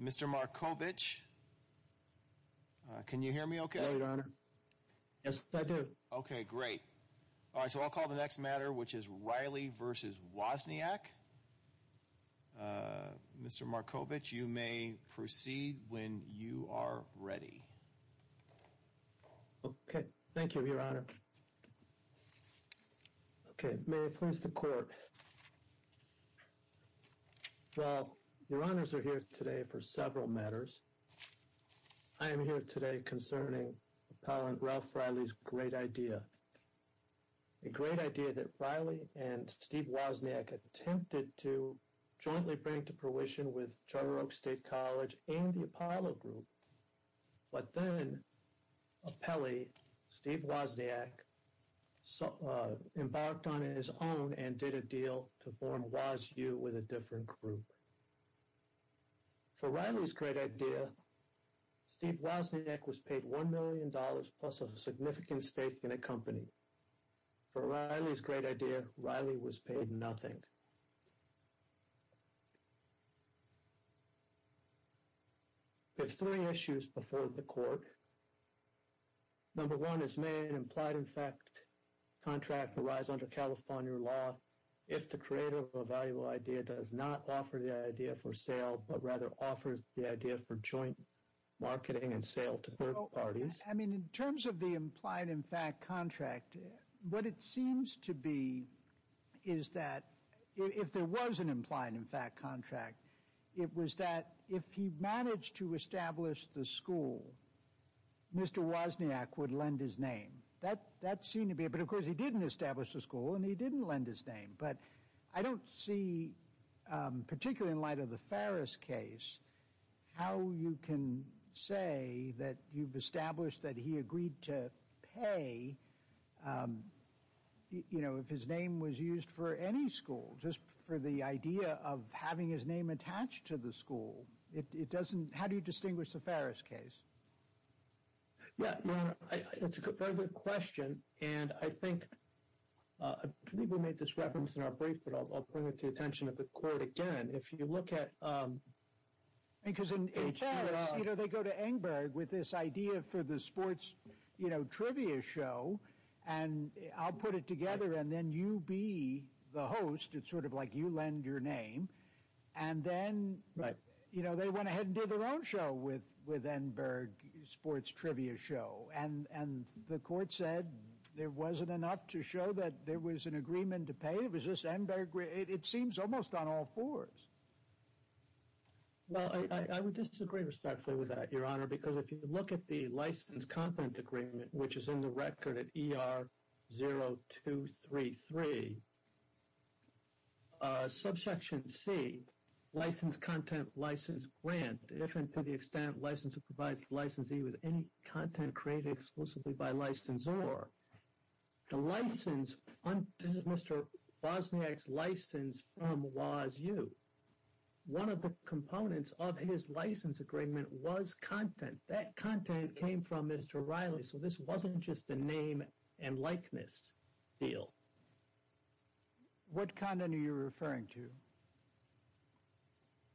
Mr. Markovich, you may proceed when you are ready. Thank you, Your Honor. Okay, may it please the Court. Well, Your Honors are here today for several matters. I am here today concerning Appellant Ralph Reilly's great idea. A great idea that Reilly and Steve Wozniak attempted to jointly bring to fruition with Charter Oak State College and the Apollo Group. But then Appellate Steve Wozniak embarked on his own and did a deal to form WozU with a different group. For Reilly's great idea, Steve Wozniak was paid $1 million plus a significant stake in a company. For Reilly's great idea, Reilly was paid nothing. There are three issues before the Court. Number one is, may an implied-in-fact contract arise under California law if the creator of a valuable idea does not offer the idea for sale, but rather offers the idea for joint marketing and sale to third parties? I mean, in terms of the implied-in-fact contract, what it seems to be is that if there was an implied-in-fact contract, it was that if he managed to establish the school, Mr. Wozniak would lend his name. That seemed to be it. But, of course, he didn't establish the school and he didn't lend his name. But I don't see, particularly in light of the Ferris case, how you can say that you've established that he agreed to pay, you know, if his name was used for any school. Just for the idea of having his name attached to the school, it doesn't, how do you distinguish the Ferris case? Yeah, it's a very good question. And I think, I think we made this reference in our brief, but I'll bring it to the attention of the Court again. If you look at… Because in Ferris, you know, they go to Engberg with this idea for the sports, you know, trivia show. And I'll put it together and then you be the host. It's sort of like you lend your name. And then, you know, they went ahead and did their own show with Engberg, sports trivia show. And the Court said there wasn't enough to show that there was an agreement to pay. It was just Engberg. It seems almost on all fours. Well, I would disagree respectfully with that, Your Honor. Because if you look at the License Content Agreement, which is in the record at ER 0233, subsection C, License Content, License Grant, different to the extent license provides licensee with any content created exclusively by licensor. The license, this is Mr. Bosniak's license from WOSU. One of the components of his license agreement was content. That content came from Mr. Riley. So this wasn't just a name and likeness deal. What content are you referring to?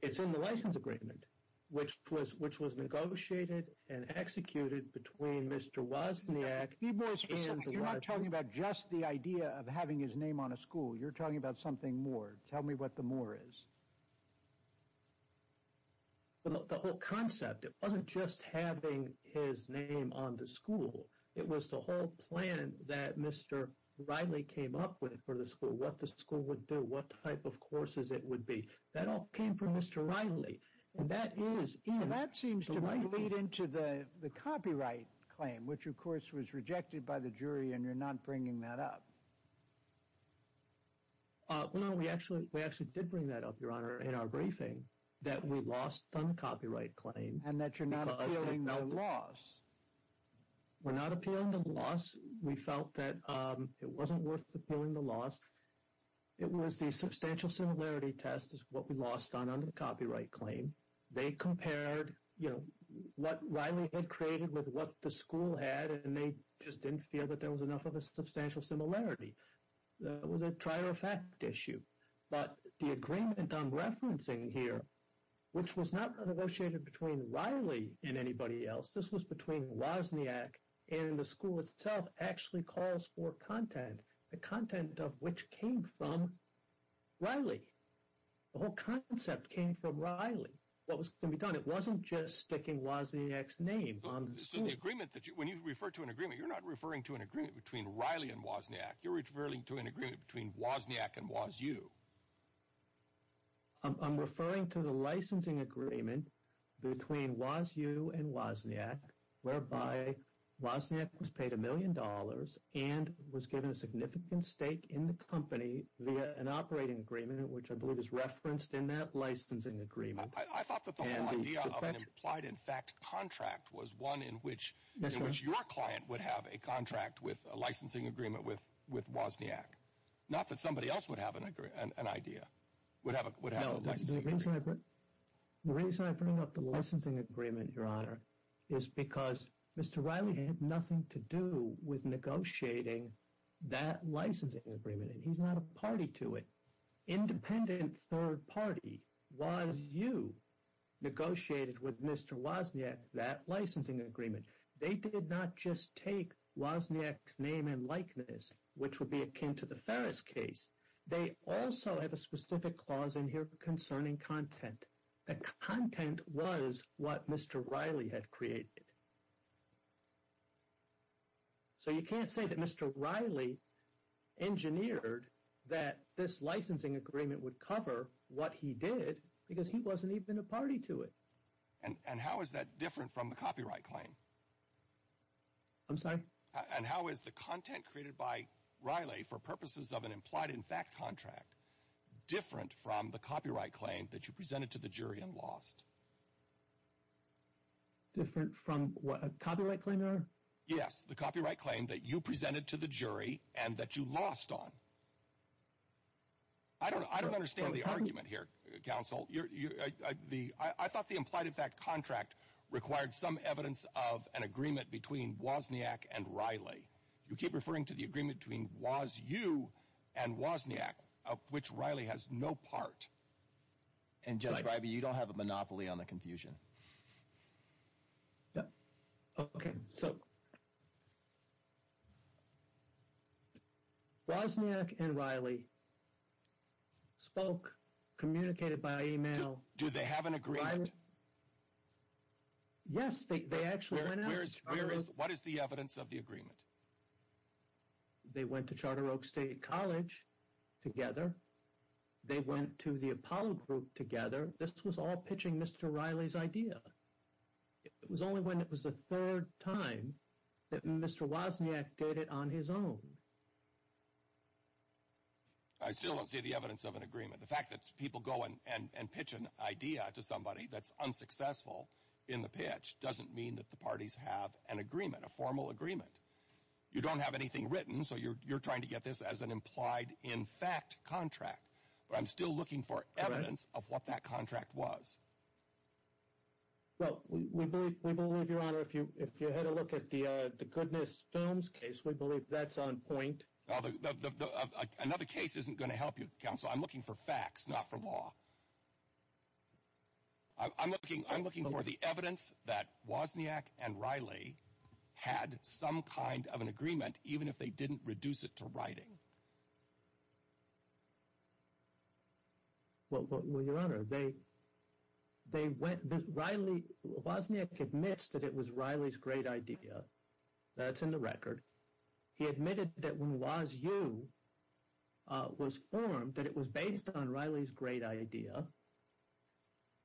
It's in the license agreement, which was negotiated and executed between Mr. Bosniak and… You're not talking about just the idea of having his name on a school. You're talking about something more. Tell me what the more is. The whole concept. It wasn't just having his name on the school. It was the whole plan that Mr. Riley came up with for the school. What the school would do. What type of courses it would be. That all came from Mr. Riley. And that seems to lead into the copyright claim, which of course was rejected by the jury. And you're not bringing that up. No, we actually did bring that up, Your Honor, in our briefing. That we lost on the copyright claim. And that you're not appealing the loss. We're not appealing the loss. We felt that it wasn't worth appealing the loss. It was the substantial similarity test is what we lost on the copyright claim. They compared, you know, what Riley had created with what the school had. And they just didn't feel that there was enough of a substantial similarity. It was a trier effect issue. But the agreement I'm referencing here, which was not negotiated between Riley and anybody else. This was between Bosniak and the school itself actually calls for content. The content of which came from Riley. The whole concept came from Riley. What was going to be done? It wasn't just sticking Bosniak's name on the school. So the agreement that you, when you refer to an agreement, you're not referring to an agreement between Riley and Bosniak. You're referring to an agreement between Bosniak and WOSU. I'm referring to the licensing agreement between WOSU and Bosniak. Whereby Bosniak was paid a million dollars and was given a significant stake in the company via an operating agreement, which I believe is referenced in that licensing agreement. I thought that the whole idea of an implied in fact contract was one in which your client would have a contract with a licensing agreement with Bosniak. Not that somebody else would have an idea, would have a licensing agreement. The reason I bring up the licensing agreement, Your Honor, is because Mr. Riley had nothing to do with negotiating that licensing agreement. And he's not a party to it. Independent third party, WOSU, negotiated with Mr. Bosniak that licensing agreement. They did not just take Bosniak's name and likeness, which would be akin to the Ferris case. They also have a specific clause in here concerning content. The content was what Mr. Riley had created. So you can't say that Mr. Riley engineered that this licensing agreement would cover what he did because he wasn't even a party to it. And how is that different from the copyright claim? I'm sorry? And how is the content created by Riley for purposes of an implied in fact contract different from the copyright claim that you presented to the jury and lost? Different from what? A copyright claim, Your Honor? Yes, the copyright claim that you presented to the jury and that you lost on. I don't understand the argument here, counsel. I thought the implied in fact contract required some evidence of an agreement between Bosniak and Riley. You keep referring to the agreement between WOSU and Bosniak, of which Riley has no part. And Judge Riley, you don't have a monopoly on the confusion. Yeah. Okay, so. Bosniak and Riley spoke, communicated by email. Do they have an agreement? Yes, they actually went out to Charter Oak State. What is the evidence of the agreement? They went to Charter Oak State College together. They went to the Apollo Group together. This was all pitching Mr. Riley's idea. It was only when it was the third time that Mr. Bosniak did it on his own. I still don't see the evidence of an agreement. The fact that people go and pitch an idea to somebody that's unsuccessful in the pitch doesn't mean that the parties have an agreement, a formal agreement. You don't have anything written, so you're trying to get this as an implied in fact contract. But I'm still looking for evidence of what that contract was. Well, we believe, Your Honor, if you had a look at the Goodness Films case, we believe that's on point. Another case isn't going to help you, Counsel. I'm looking for facts, not for law. I'm looking for the evidence that Bosniak and Riley had some kind of an agreement, even if they didn't reduce it to writing. Well, Your Honor, Bosniak admits that it was Riley's great idea. That's in the record. He admitted that when WASU was formed, that it was based on Riley's great idea.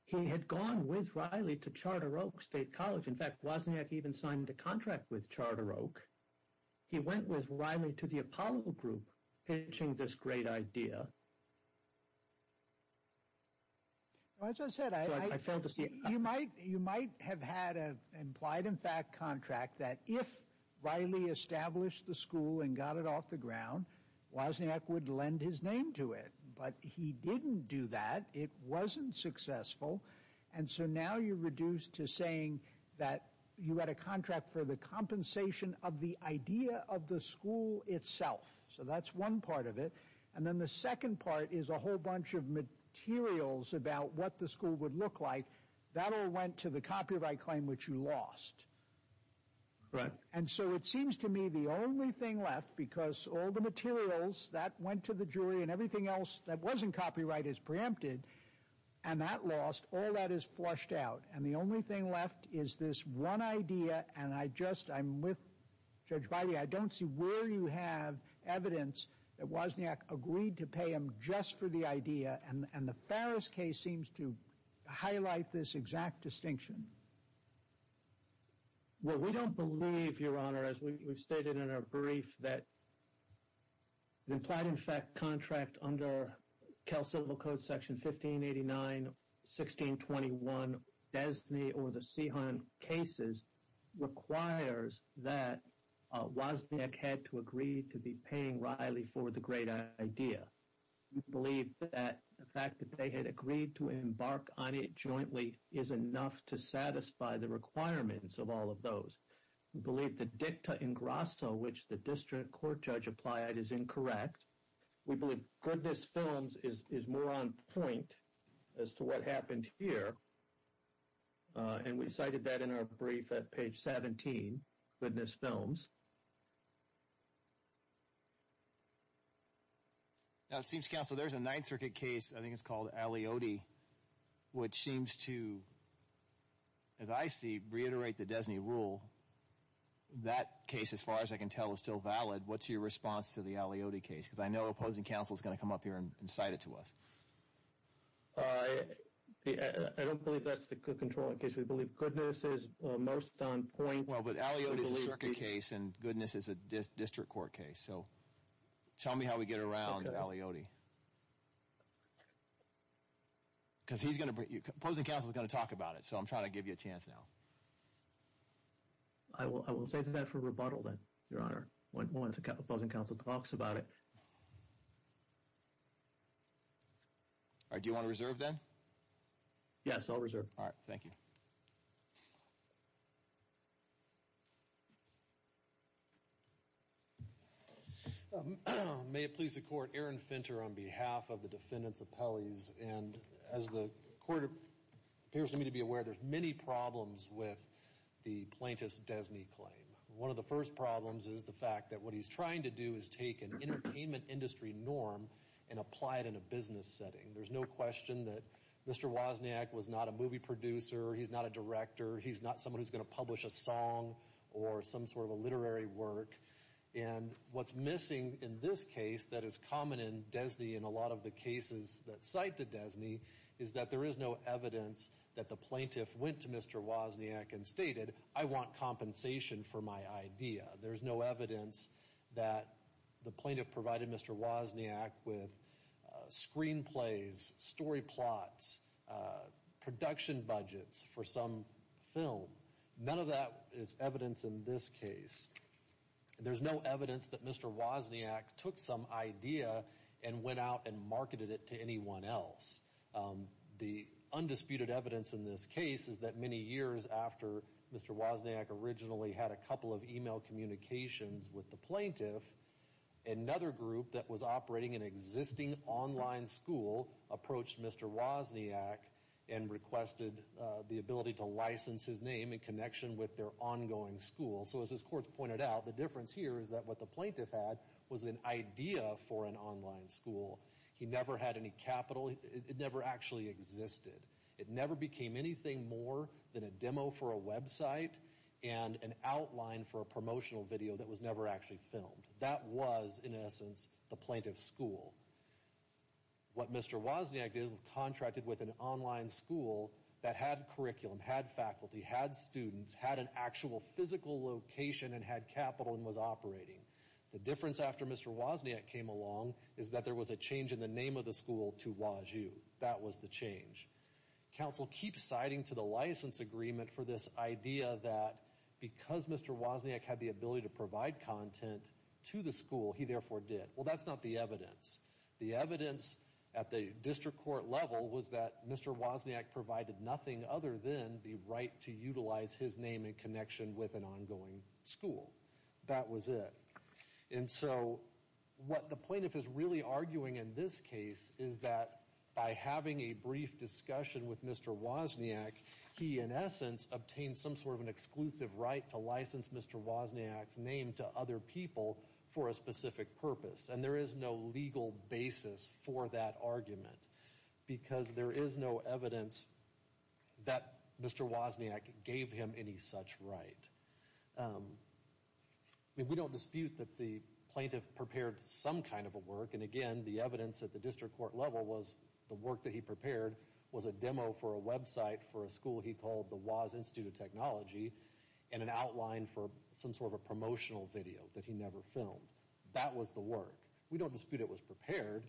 He had gone with Riley to Charter Oak State College. In fact, Bosniak even signed a contract with Charter Oak. He went with Riley to the Apollo Group, pitching this great idea. As I said, you might have had an implied in fact contract that if Riley established the school and got it off the ground, Bosniak would lend his name to it. But he didn't do that. It wasn't successful. And so now you're reduced to saying that you had a contract for the compensation of the idea of the school itself. So that's one part of it. And then the second part is a whole bunch of materials about what the school would look like. That all went to the copyright claim, which you lost. Right. And so it seems to me the only thing left, because all the materials that went to the jury and everything else that wasn't copyright is preempted, and that lost, all that is flushed out. And the only thing left is this one idea, and I just, I'm with Judge Riley, I don't see where you have evidence that Bosniak agreed to pay him just for the idea, and the Farris case seems to highlight this exact distinction. Well, we don't believe, Your Honor, as we've stated in our brief, that the implied-in-fact contract under Cal Syllable Code Section 1589, 1621, Desney or the Seehan cases, requires that Bosniak had to agree to be paying Riley for the great idea. We believe that the fact that they had agreed to embark on it jointly is enough to satisfy the requirements of all of those. We believe the dicta in grasso, which the district court judge applied, is incorrect. We believe Goodness Films is more on point as to what happened here, and we cited that in our brief at page 17, Goodness Films. Now it seems, Counselor, there's a Ninth Circuit case, I think it's called Aliodi, which seems to, as I see, reiterate the Desney rule. That case, as far as I can tell, is still valid. What's your response to the Aliodi case? Because I know opposing counsel is going to come up here and cite it to us. I don't believe that's the controlling case. We believe Goodness is most on point. Well, but Aliodi is a circuit case, and Goodness is a district court case. So tell me how we get around Aliodi. Because opposing counsel is going to talk about it, so I'm trying to give you a chance now. I will save that for rebuttal then, Your Honor, once opposing counsel talks about it. All right, do you want to reserve then? Yes, I'll reserve. All right, thank you. Thank you. May it please the Court, Aaron Finter on behalf of the defendants' appellees. And as the Court appears to me to be aware, there's many problems with the plaintiff's Desney claim. One of the first problems is the fact that what he's trying to do is take an entertainment industry norm and apply it in a business setting. There's no question that Mr. Wozniak was not a movie producer. He's not a director. He's not someone who's going to publish a song or some sort of a literary work. And what's missing in this case that is common in Desney and a lot of the cases that cite to Desney is that there is no evidence that the plaintiff went to Mr. Wozniak and stated, I want compensation for my idea. There's no evidence that the plaintiff provided Mr. Wozniak with screenplays, story plots, production budgets for some film. None of that is evidence in this case. There's no evidence that Mr. Wozniak took some idea and went out and marketed it to anyone else. The undisputed evidence in this case is that many years after Mr. Wozniak originally had a couple of email communications with the plaintiff, another group that was operating an existing online school approached Mr. Wozniak and requested the ability to license his name in connection with their ongoing school. So as this court pointed out, the difference here is that what the plaintiff had was an idea for an online school. He never had any capital. It never actually existed. It never became anything more than a demo for a website and an outline for a promotional video that was never actually filmed. That was, in essence, the plaintiff's school. What Mr. Wozniak did was contracted with an online school that had curriculum, had faculty, had students, had an actual physical location, and had capital and was operating. The difference after Mr. Wozniak came along is that there was a change in the name of the school to Waju. That was the change. Counsel keeps citing to the license agreement for this idea that because Mr. Wozniak had the ability to provide content to the school, he therefore did. Well, that's not the evidence. The evidence at the district court level was that Mr. Wozniak provided nothing other than the right to utilize his name in connection with an ongoing school. That was it. And so what the plaintiff is really arguing in this case is that by having a brief discussion with Mr. Wozniak, he, in essence, obtained some sort of an exclusive right to license Mr. Wozniak's name to other people for a specific purpose. And there is no legal basis for that argument because there is no evidence that Mr. Wozniak gave him any such right. We don't dispute that the plaintiff prepared some kind of a work. And again, the evidence at the district court level was the work that he prepared was a demo for a website for a school he called the Woz Institute of Technology and an outline for some sort of a promotional video that he never filmed. That was the work. We don't dispute it was prepared,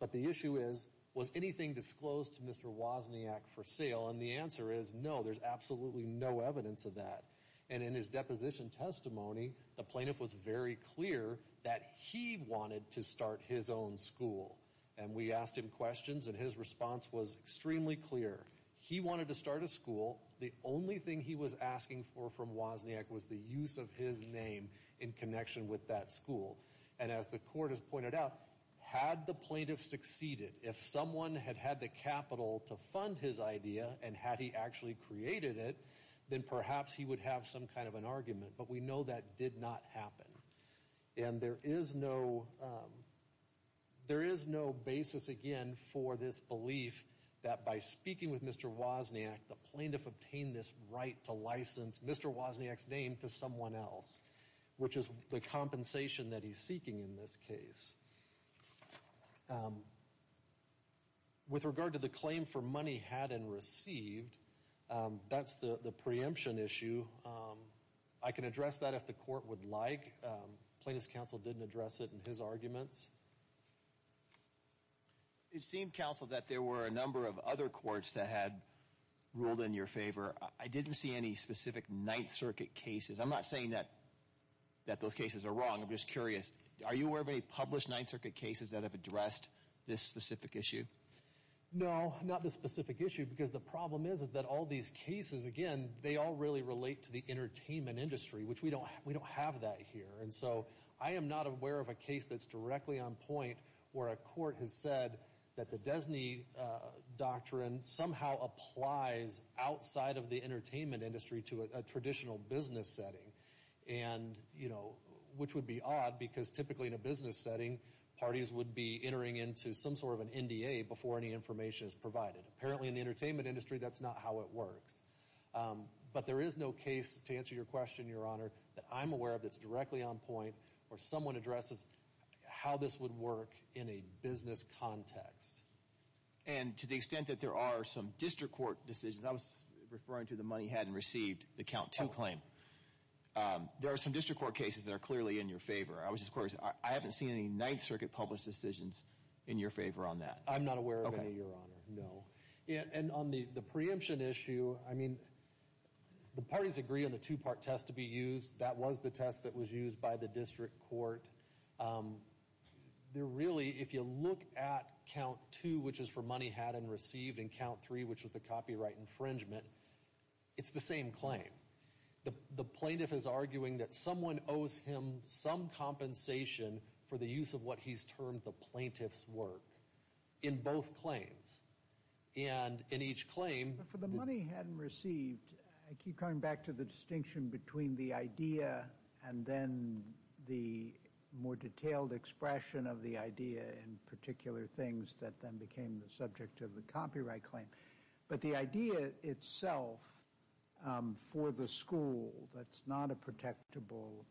but the issue is, was anything disclosed to Mr. Wozniak for sale? And the answer is no. There's absolutely no evidence of that. And in his deposition testimony, the plaintiff was very clear that he wanted to start his own school. And we asked him questions, and his response was extremely clear. He wanted to start a school. The only thing he was asking for from Wozniak was the use of his name in connection with that school. And as the court has pointed out, had the plaintiff succeeded, if someone had had the capital to fund his idea and had he actually created it, then perhaps he would have some kind of an argument. But we know that did not happen. And there is no basis, again, for this belief that by speaking with Mr. Wozniak, the plaintiff obtained this right to license Mr. Wozniak's name to someone else, which is the compensation that he's seeking in this case. With regard to the claim for money had and received, that's the preemption issue. I can address that if the court would like. Plaintiff's counsel didn't address it in his arguments. It seemed, counsel, that there were a number of other courts that had ruled in your favor. I didn't see any specific Ninth Circuit cases. I'm not saying that those cases are wrong. I'm just curious. Are you aware of any published Ninth Circuit cases that have addressed this specific issue? No, not this specific issue because the problem is that all these cases, again, they all really relate to the entertainment industry, which we don't have that here. And so I am not aware of a case that's directly on point where a court has said that the DESNY doctrine somehow applies outside of the entertainment industry to a traditional business setting, which would be odd because typically in a business setting, parties would be entering into some sort of an NDA before any information is provided. Apparently, in the entertainment industry, that's not how it works. But there is no case, to answer your question, Your Honor, that I'm aware of that's directly on point where someone addresses how this would work in a business context. And to the extent that there are some district court decisions, I was referring to the money hadn't received, the count two claim. There are some district court cases that are clearly in your favor. I was just curious. I haven't seen any Ninth Circuit published decisions in your favor on that. I'm not aware of any, Your Honor. No. And on the preemption issue, I mean, the parties agree on the two-part test to be used. That was the test that was used by the district court. There really, if you look at count two, which is for money hadn't received, and count three, which was the copyright infringement, it's the same claim. The plaintiff is arguing that someone owes him some compensation for the use of what he's termed the plaintiff's work in both claims. And in each claim— I'm coming back to the distinction between the idea and then the more detailed expression of the idea in particular things that then became the subject of the copyright claim. But the idea itself for the school, that's not a protectable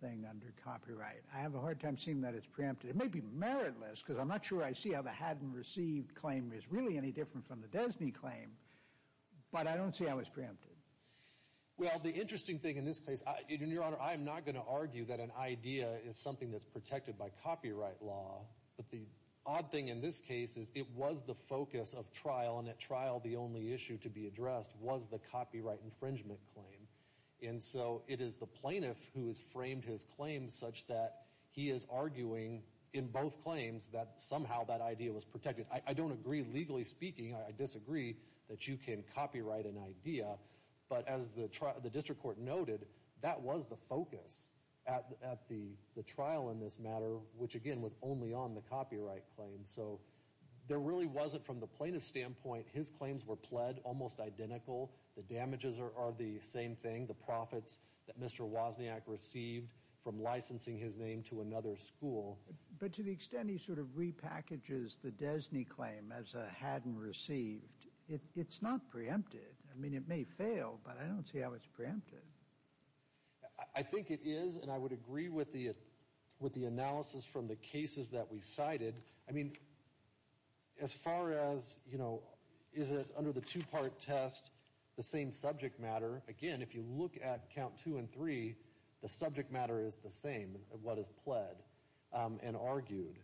thing under copyright. I have a hard time seeing that it's preempted. It may be meritless because I'm not sure I see how the hadn't received claim is really any different from the Desney claim, but I don't see how it's preempted. Well, the interesting thing in this case— Your Honor, I am not going to argue that an idea is something that's protected by copyright law. But the odd thing in this case is it was the focus of trial, and at trial the only issue to be addressed was the copyright infringement claim. And so it is the plaintiff who has framed his claim such that he is arguing in both claims that somehow that idea was protected. I don't agree legally speaking. I disagree that you can copyright an idea. But as the district court noted, that was the focus at the trial in this matter, which, again, was only on the copyright claim. So there really wasn't from the plaintiff's standpoint. His claims were pled almost identical. The damages are the same thing, the profits that Mr. Wozniak received from licensing his name to another school. But to the extent he sort of repackages the Desney claim as a hadn't received, it's not preempted. I mean, it may fail, but I don't see how it's preempted. I think it is, and I would agree with the analysis from the cases that we cited. I mean, as far as, you know, is it under the two-part test, the same subject matter, again, if you look at count two and three, the subject matter is the same, what is pled. And argued.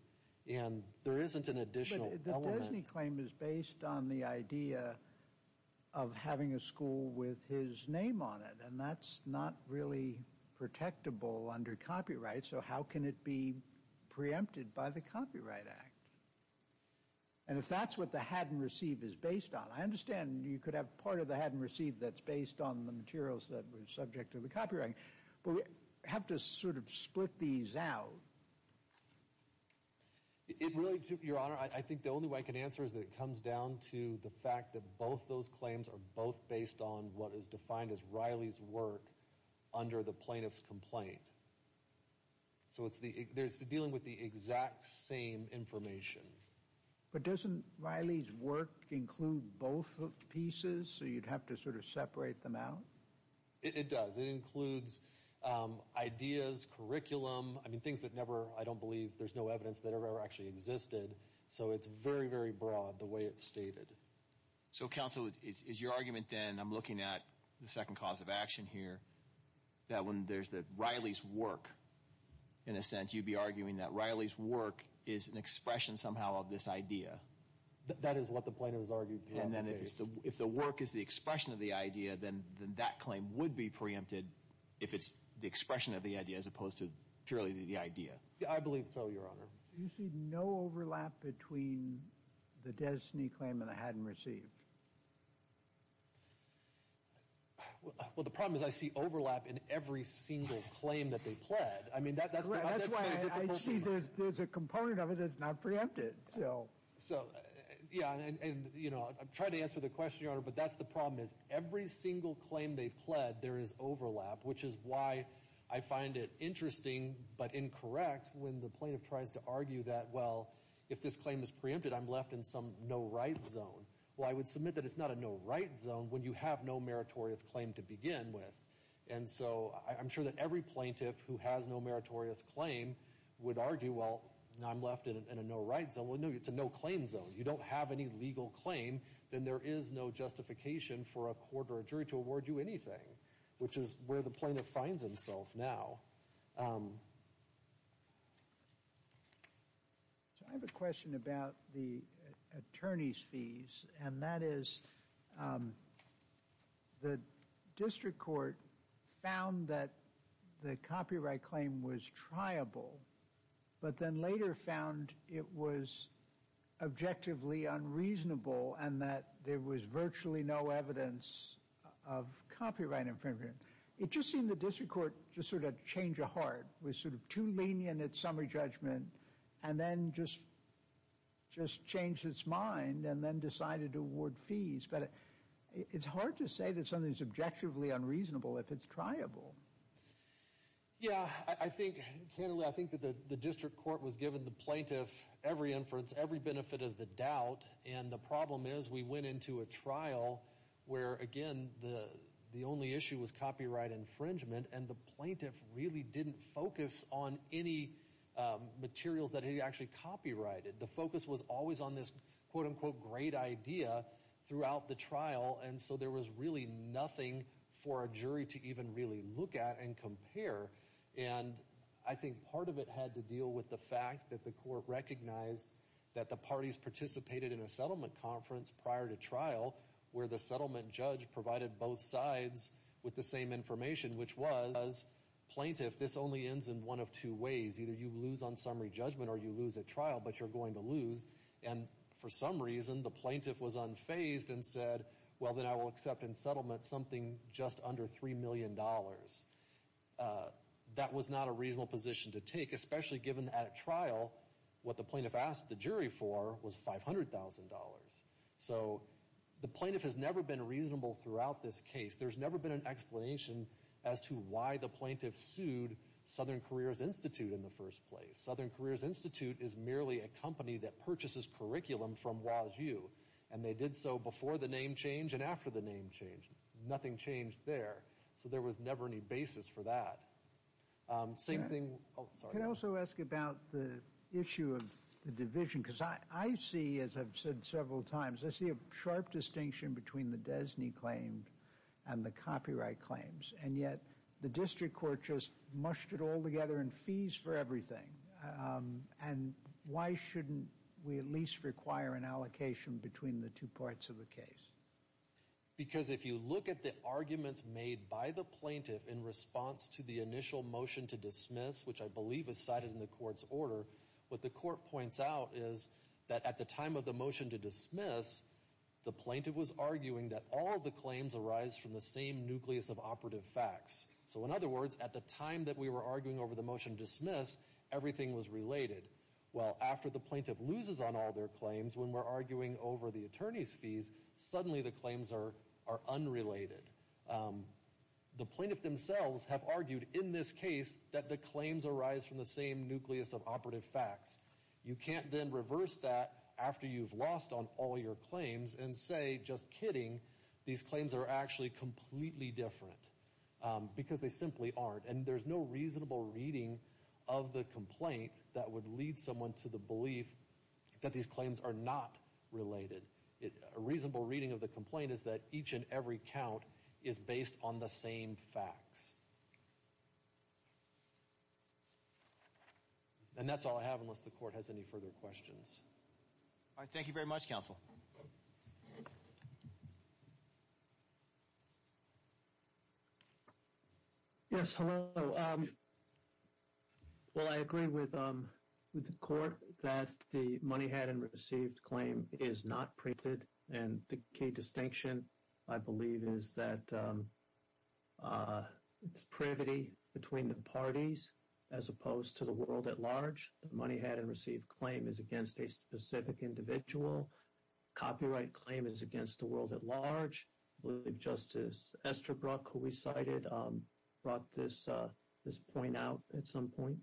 And there isn't an additional element. But the Desney claim is based on the idea of having a school with his name on it. And that's not really protectable under copyright. So how can it be preempted by the Copyright Act? And if that's what the hadn't received is based on, I understand you could have part of the hadn't received that's based on the materials that were subject to the copyright. But we have to sort of split these out. Your Honor, I think the only way I can answer is that it comes down to the fact that both those claims are both based on what is defined as Riley's work under the plaintiff's complaint. So it's dealing with the exact same information. But doesn't Riley's work include both pieces? So you'd have to sort of separate them out? It does. It includes ideas, curriculum, I mean, things that never, I don't believe, there's no evidence that ever actually existed. So it's very, very broad the way it's stated. So counsel, is your argument then, I'm looking at the second cause of action here, that when there's Riley's work, in a sense, you'd be arguing that Riley's work is an expression somehow of this idea. That is what the plaintiff has argued throughout the case. And then if the work is the expression of the idea, then that claim would be preempted if it's the expression of the idea as opposed to purely the idea. I believe so, Your Honor. Do you see no overlap between the Dez Snee claim and the hadn't received? Well, the problem is I see overlap in every single claim that they pled. That's why I see there's a component of it that's not preempted. So, yeah, and, you know, I'm trying to answer the question, Your Honor, but that's the problem is every single claim they've pled, there is overlap, which is why I find it interesting but incorrect when the plaintiff tries to argue that, well, if this claim is preempted, I'm left in some no right zone. Well, I would submit that it's not a no right zone when you have no meritorious claim to begin with. And so I'm sure that every plaintiff who has no meritorious claim would argue, well, I'm left in a no right zone. Well, no, it's a no claim zone. You don't have any legal claim, then there is no justification for a court or a jury to award you anything, which is where the plaintiff finds himself now. I have a question about the attorney's fees, and that is the district court found that the copyright claim was triable, but then later found it was objectively unreasonable and that there was virtually no evidence of copyright infringement. It just seemed the district court just sort of had to change a heart, was sort of too lenient at summary judgment, and then just changed its mind and then decided to award fees. But it's hard to say that something is objectively unreasonable if it's triable. Yeah, I think candidly, I think that the district court was given the plaintiff every inference, every benefit of the doubt, and the problem is we went into a trial where, again, the only issue was copyright infringement, and the plaintiff really didn't focus on any materials that he actually copyrighted. The focus was always on this quote-unquote great idea throughout the trial, and so there was really nothing for a jury to even really look at and compare. And I think part of it had to deal with the fact that the court recognized that the parties participated in a settlement conference prior to trial where the settlement judge provided both sides with the same information, which was plaintiff, this only ends in one of two ways. Either you lose on summary judgment or you lose at trial, but you're going to lose. And for some reason, the plaintiff was unfazed and said, well, then I will accept in settlement something just under $3 million. That was not a reasonable position to take, especially given at trial, what the plaintiff asked the jury for was $500,000. So the plaintiff has never been reasonable throughout this case. There's never been an explanation as to why the plaintiff sued Southern Careers Institute in the first place. Southern Careers Institute is merely a company that purchases curriculum from Waz-U, and they did so before the name change and after the name change. Nothing changed there. So there was never any basis for that. Can I also ask about the issue of the division? Because I see, as I've said several times, I see a sharp distinction between the DESNY claim and the copyright claims, and yet the district court just mushed it all together in fees for everything. And why shouldn't we at least require an allocation between the two parts of the case? Because if you look at the arguments made by the plaintiff in response to the initial motion to dismiss, which I believe is cited in the court's order, what the court points out is that at the time of the motion to dismiss, the plaintiff was arguing that all the claims arise from the same nucleus of operative facts. So in other words, at the time that we were arguing over the motion to dismiss, everything was related. Well, after the plaintiff loses on all their claims, when we're arguing over the attorney's fees, suddenly the claims are unrelated. The plaintiff themselves have argued in this case that the claims arise from the same nucleus of operative facts. You can't then reverse that after you've lost on all your claims and say, just kidding, these claims are actually completely different because they simply aren't. And there's no reasonable reading of the complaint that would lead someone to the belief that these claims are not related. A reasonable reading of the complaint is that each and every count is based on the same facts. And that's all I have, unless the court has any further questions. All right, thank you very much, counsel. Yes, hello. Well, I agree with the court that the money had and received claim is not printed. And the key distinction, I believe, is that it's privity between the parties as opposed to the world at large. The money had and received claim is against a specific individual. Copyright claim is against the world at large. I believe Justice Estabrook, who we cited, brought this point out at some point.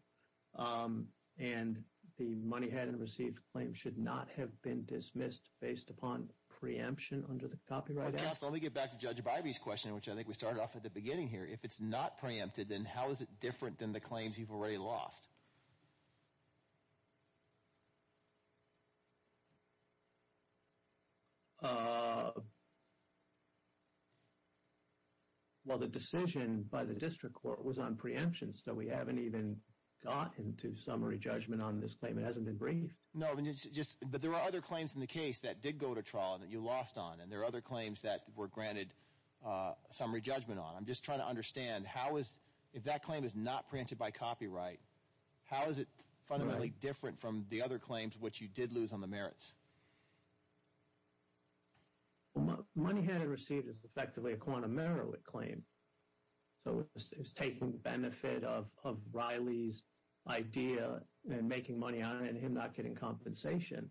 And the money had and received claim should not have been dismissed based upon preemption under the Copyright Act. Let me get back to Judge Bybee's question, which I think we started off at the beginning here. If it's not preempted, then how is it different than the claims you've already lost? Well, the decision by the district court was on preemption, so we haven't even gotten to summary judgment on this claim. It hasn't been briefed. No, but there are other claims in the case that did go to trial that you lost on. And there are other claims that were granted summary judgment on. I'm just trying to understand how is – if that claim is not preempted by copyright, how is it fundamentally different from the other claims which you did lose on the merits? Well, money had and received is effectively a quantum merit claim. So it's taking benefit of Riley's idea and making money on it and him not getting compensation.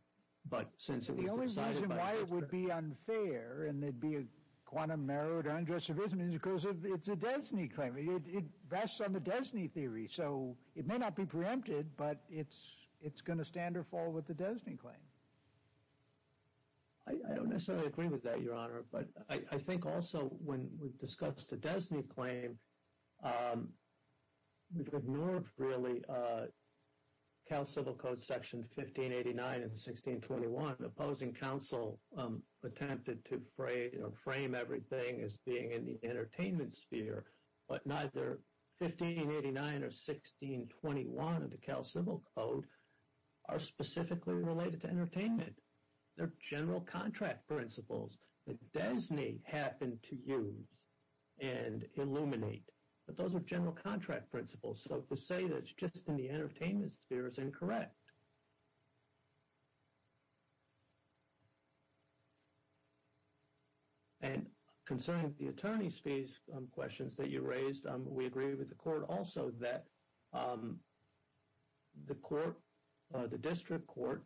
But since it was decided by – and it'd be a quantum merit unjustified because it's a DESNY claim. It rests on the DESNY theory. So it may not be preempted, but it's going to stand or fall with the DESNY claim. I don't necessarily agree with that, Your Honor. But I think also when we discussed the DESNY claim, we've ignored really Cal Civil Code Section 1589 and 1621, opposing counsel attempted to frame everything as being in the entertainment sphere. But neither 1589 or 1621 of the Cal Civil Code are specifically related to entertainment. They're general contract principles that DESNY happened to use and illuminate. But those are general contract principles. So to say that it's just in the entertainment sphere is incorrect. And concerning the attorney's fees questions that you raised, we agree with the court also that the court, the district court,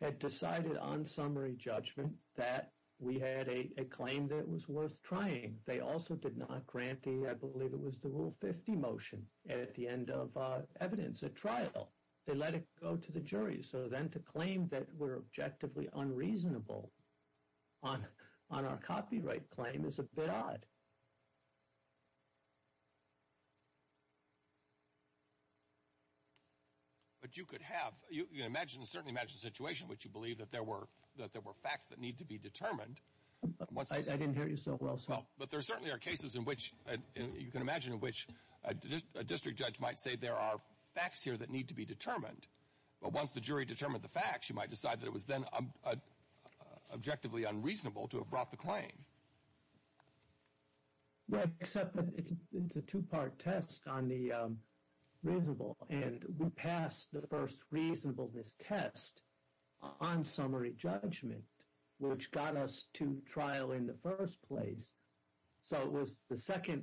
had decided on summary judgment that we had a claim that was worth trying. They also did not grant the – I believe it was the Rule 50 motion. And at the end of evidence at trial, they let it go to the jury. So then to claim that we're objectively unreasonable on our copyright claim is a bit odd. But you could have – you can certainly imagine a situation in which you believe that there were facts that need to be determined. I didn't hear you so well, sir. But there certainly are cases in which you can imagine in which a district judge might say there are facts here that need to be determined. But once the jury determined the facts, you might decide that it was then objectively unreasonable to have brought the claim. Well, except that it's a two-part test on the reasonable. And we passed the first reasonableness test on summary judgment, which got us to trial in the first place. So it was the second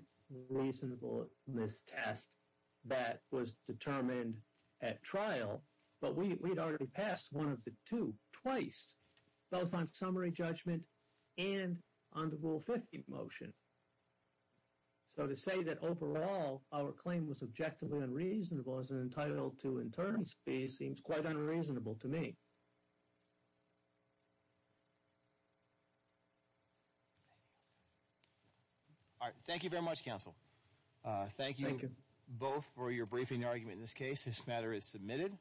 reasonableness test that was determined at trial. But we had already passed one of the two twice, both on summary judgment and on the Rule 50 motion. So to say that overall our claim was objectively unreasonable as an entitlement to internal space seems quite unreasonable to me. All right. Thank you very much, counsel. Thank you both for your briefing argument in this case. This matter is submitted.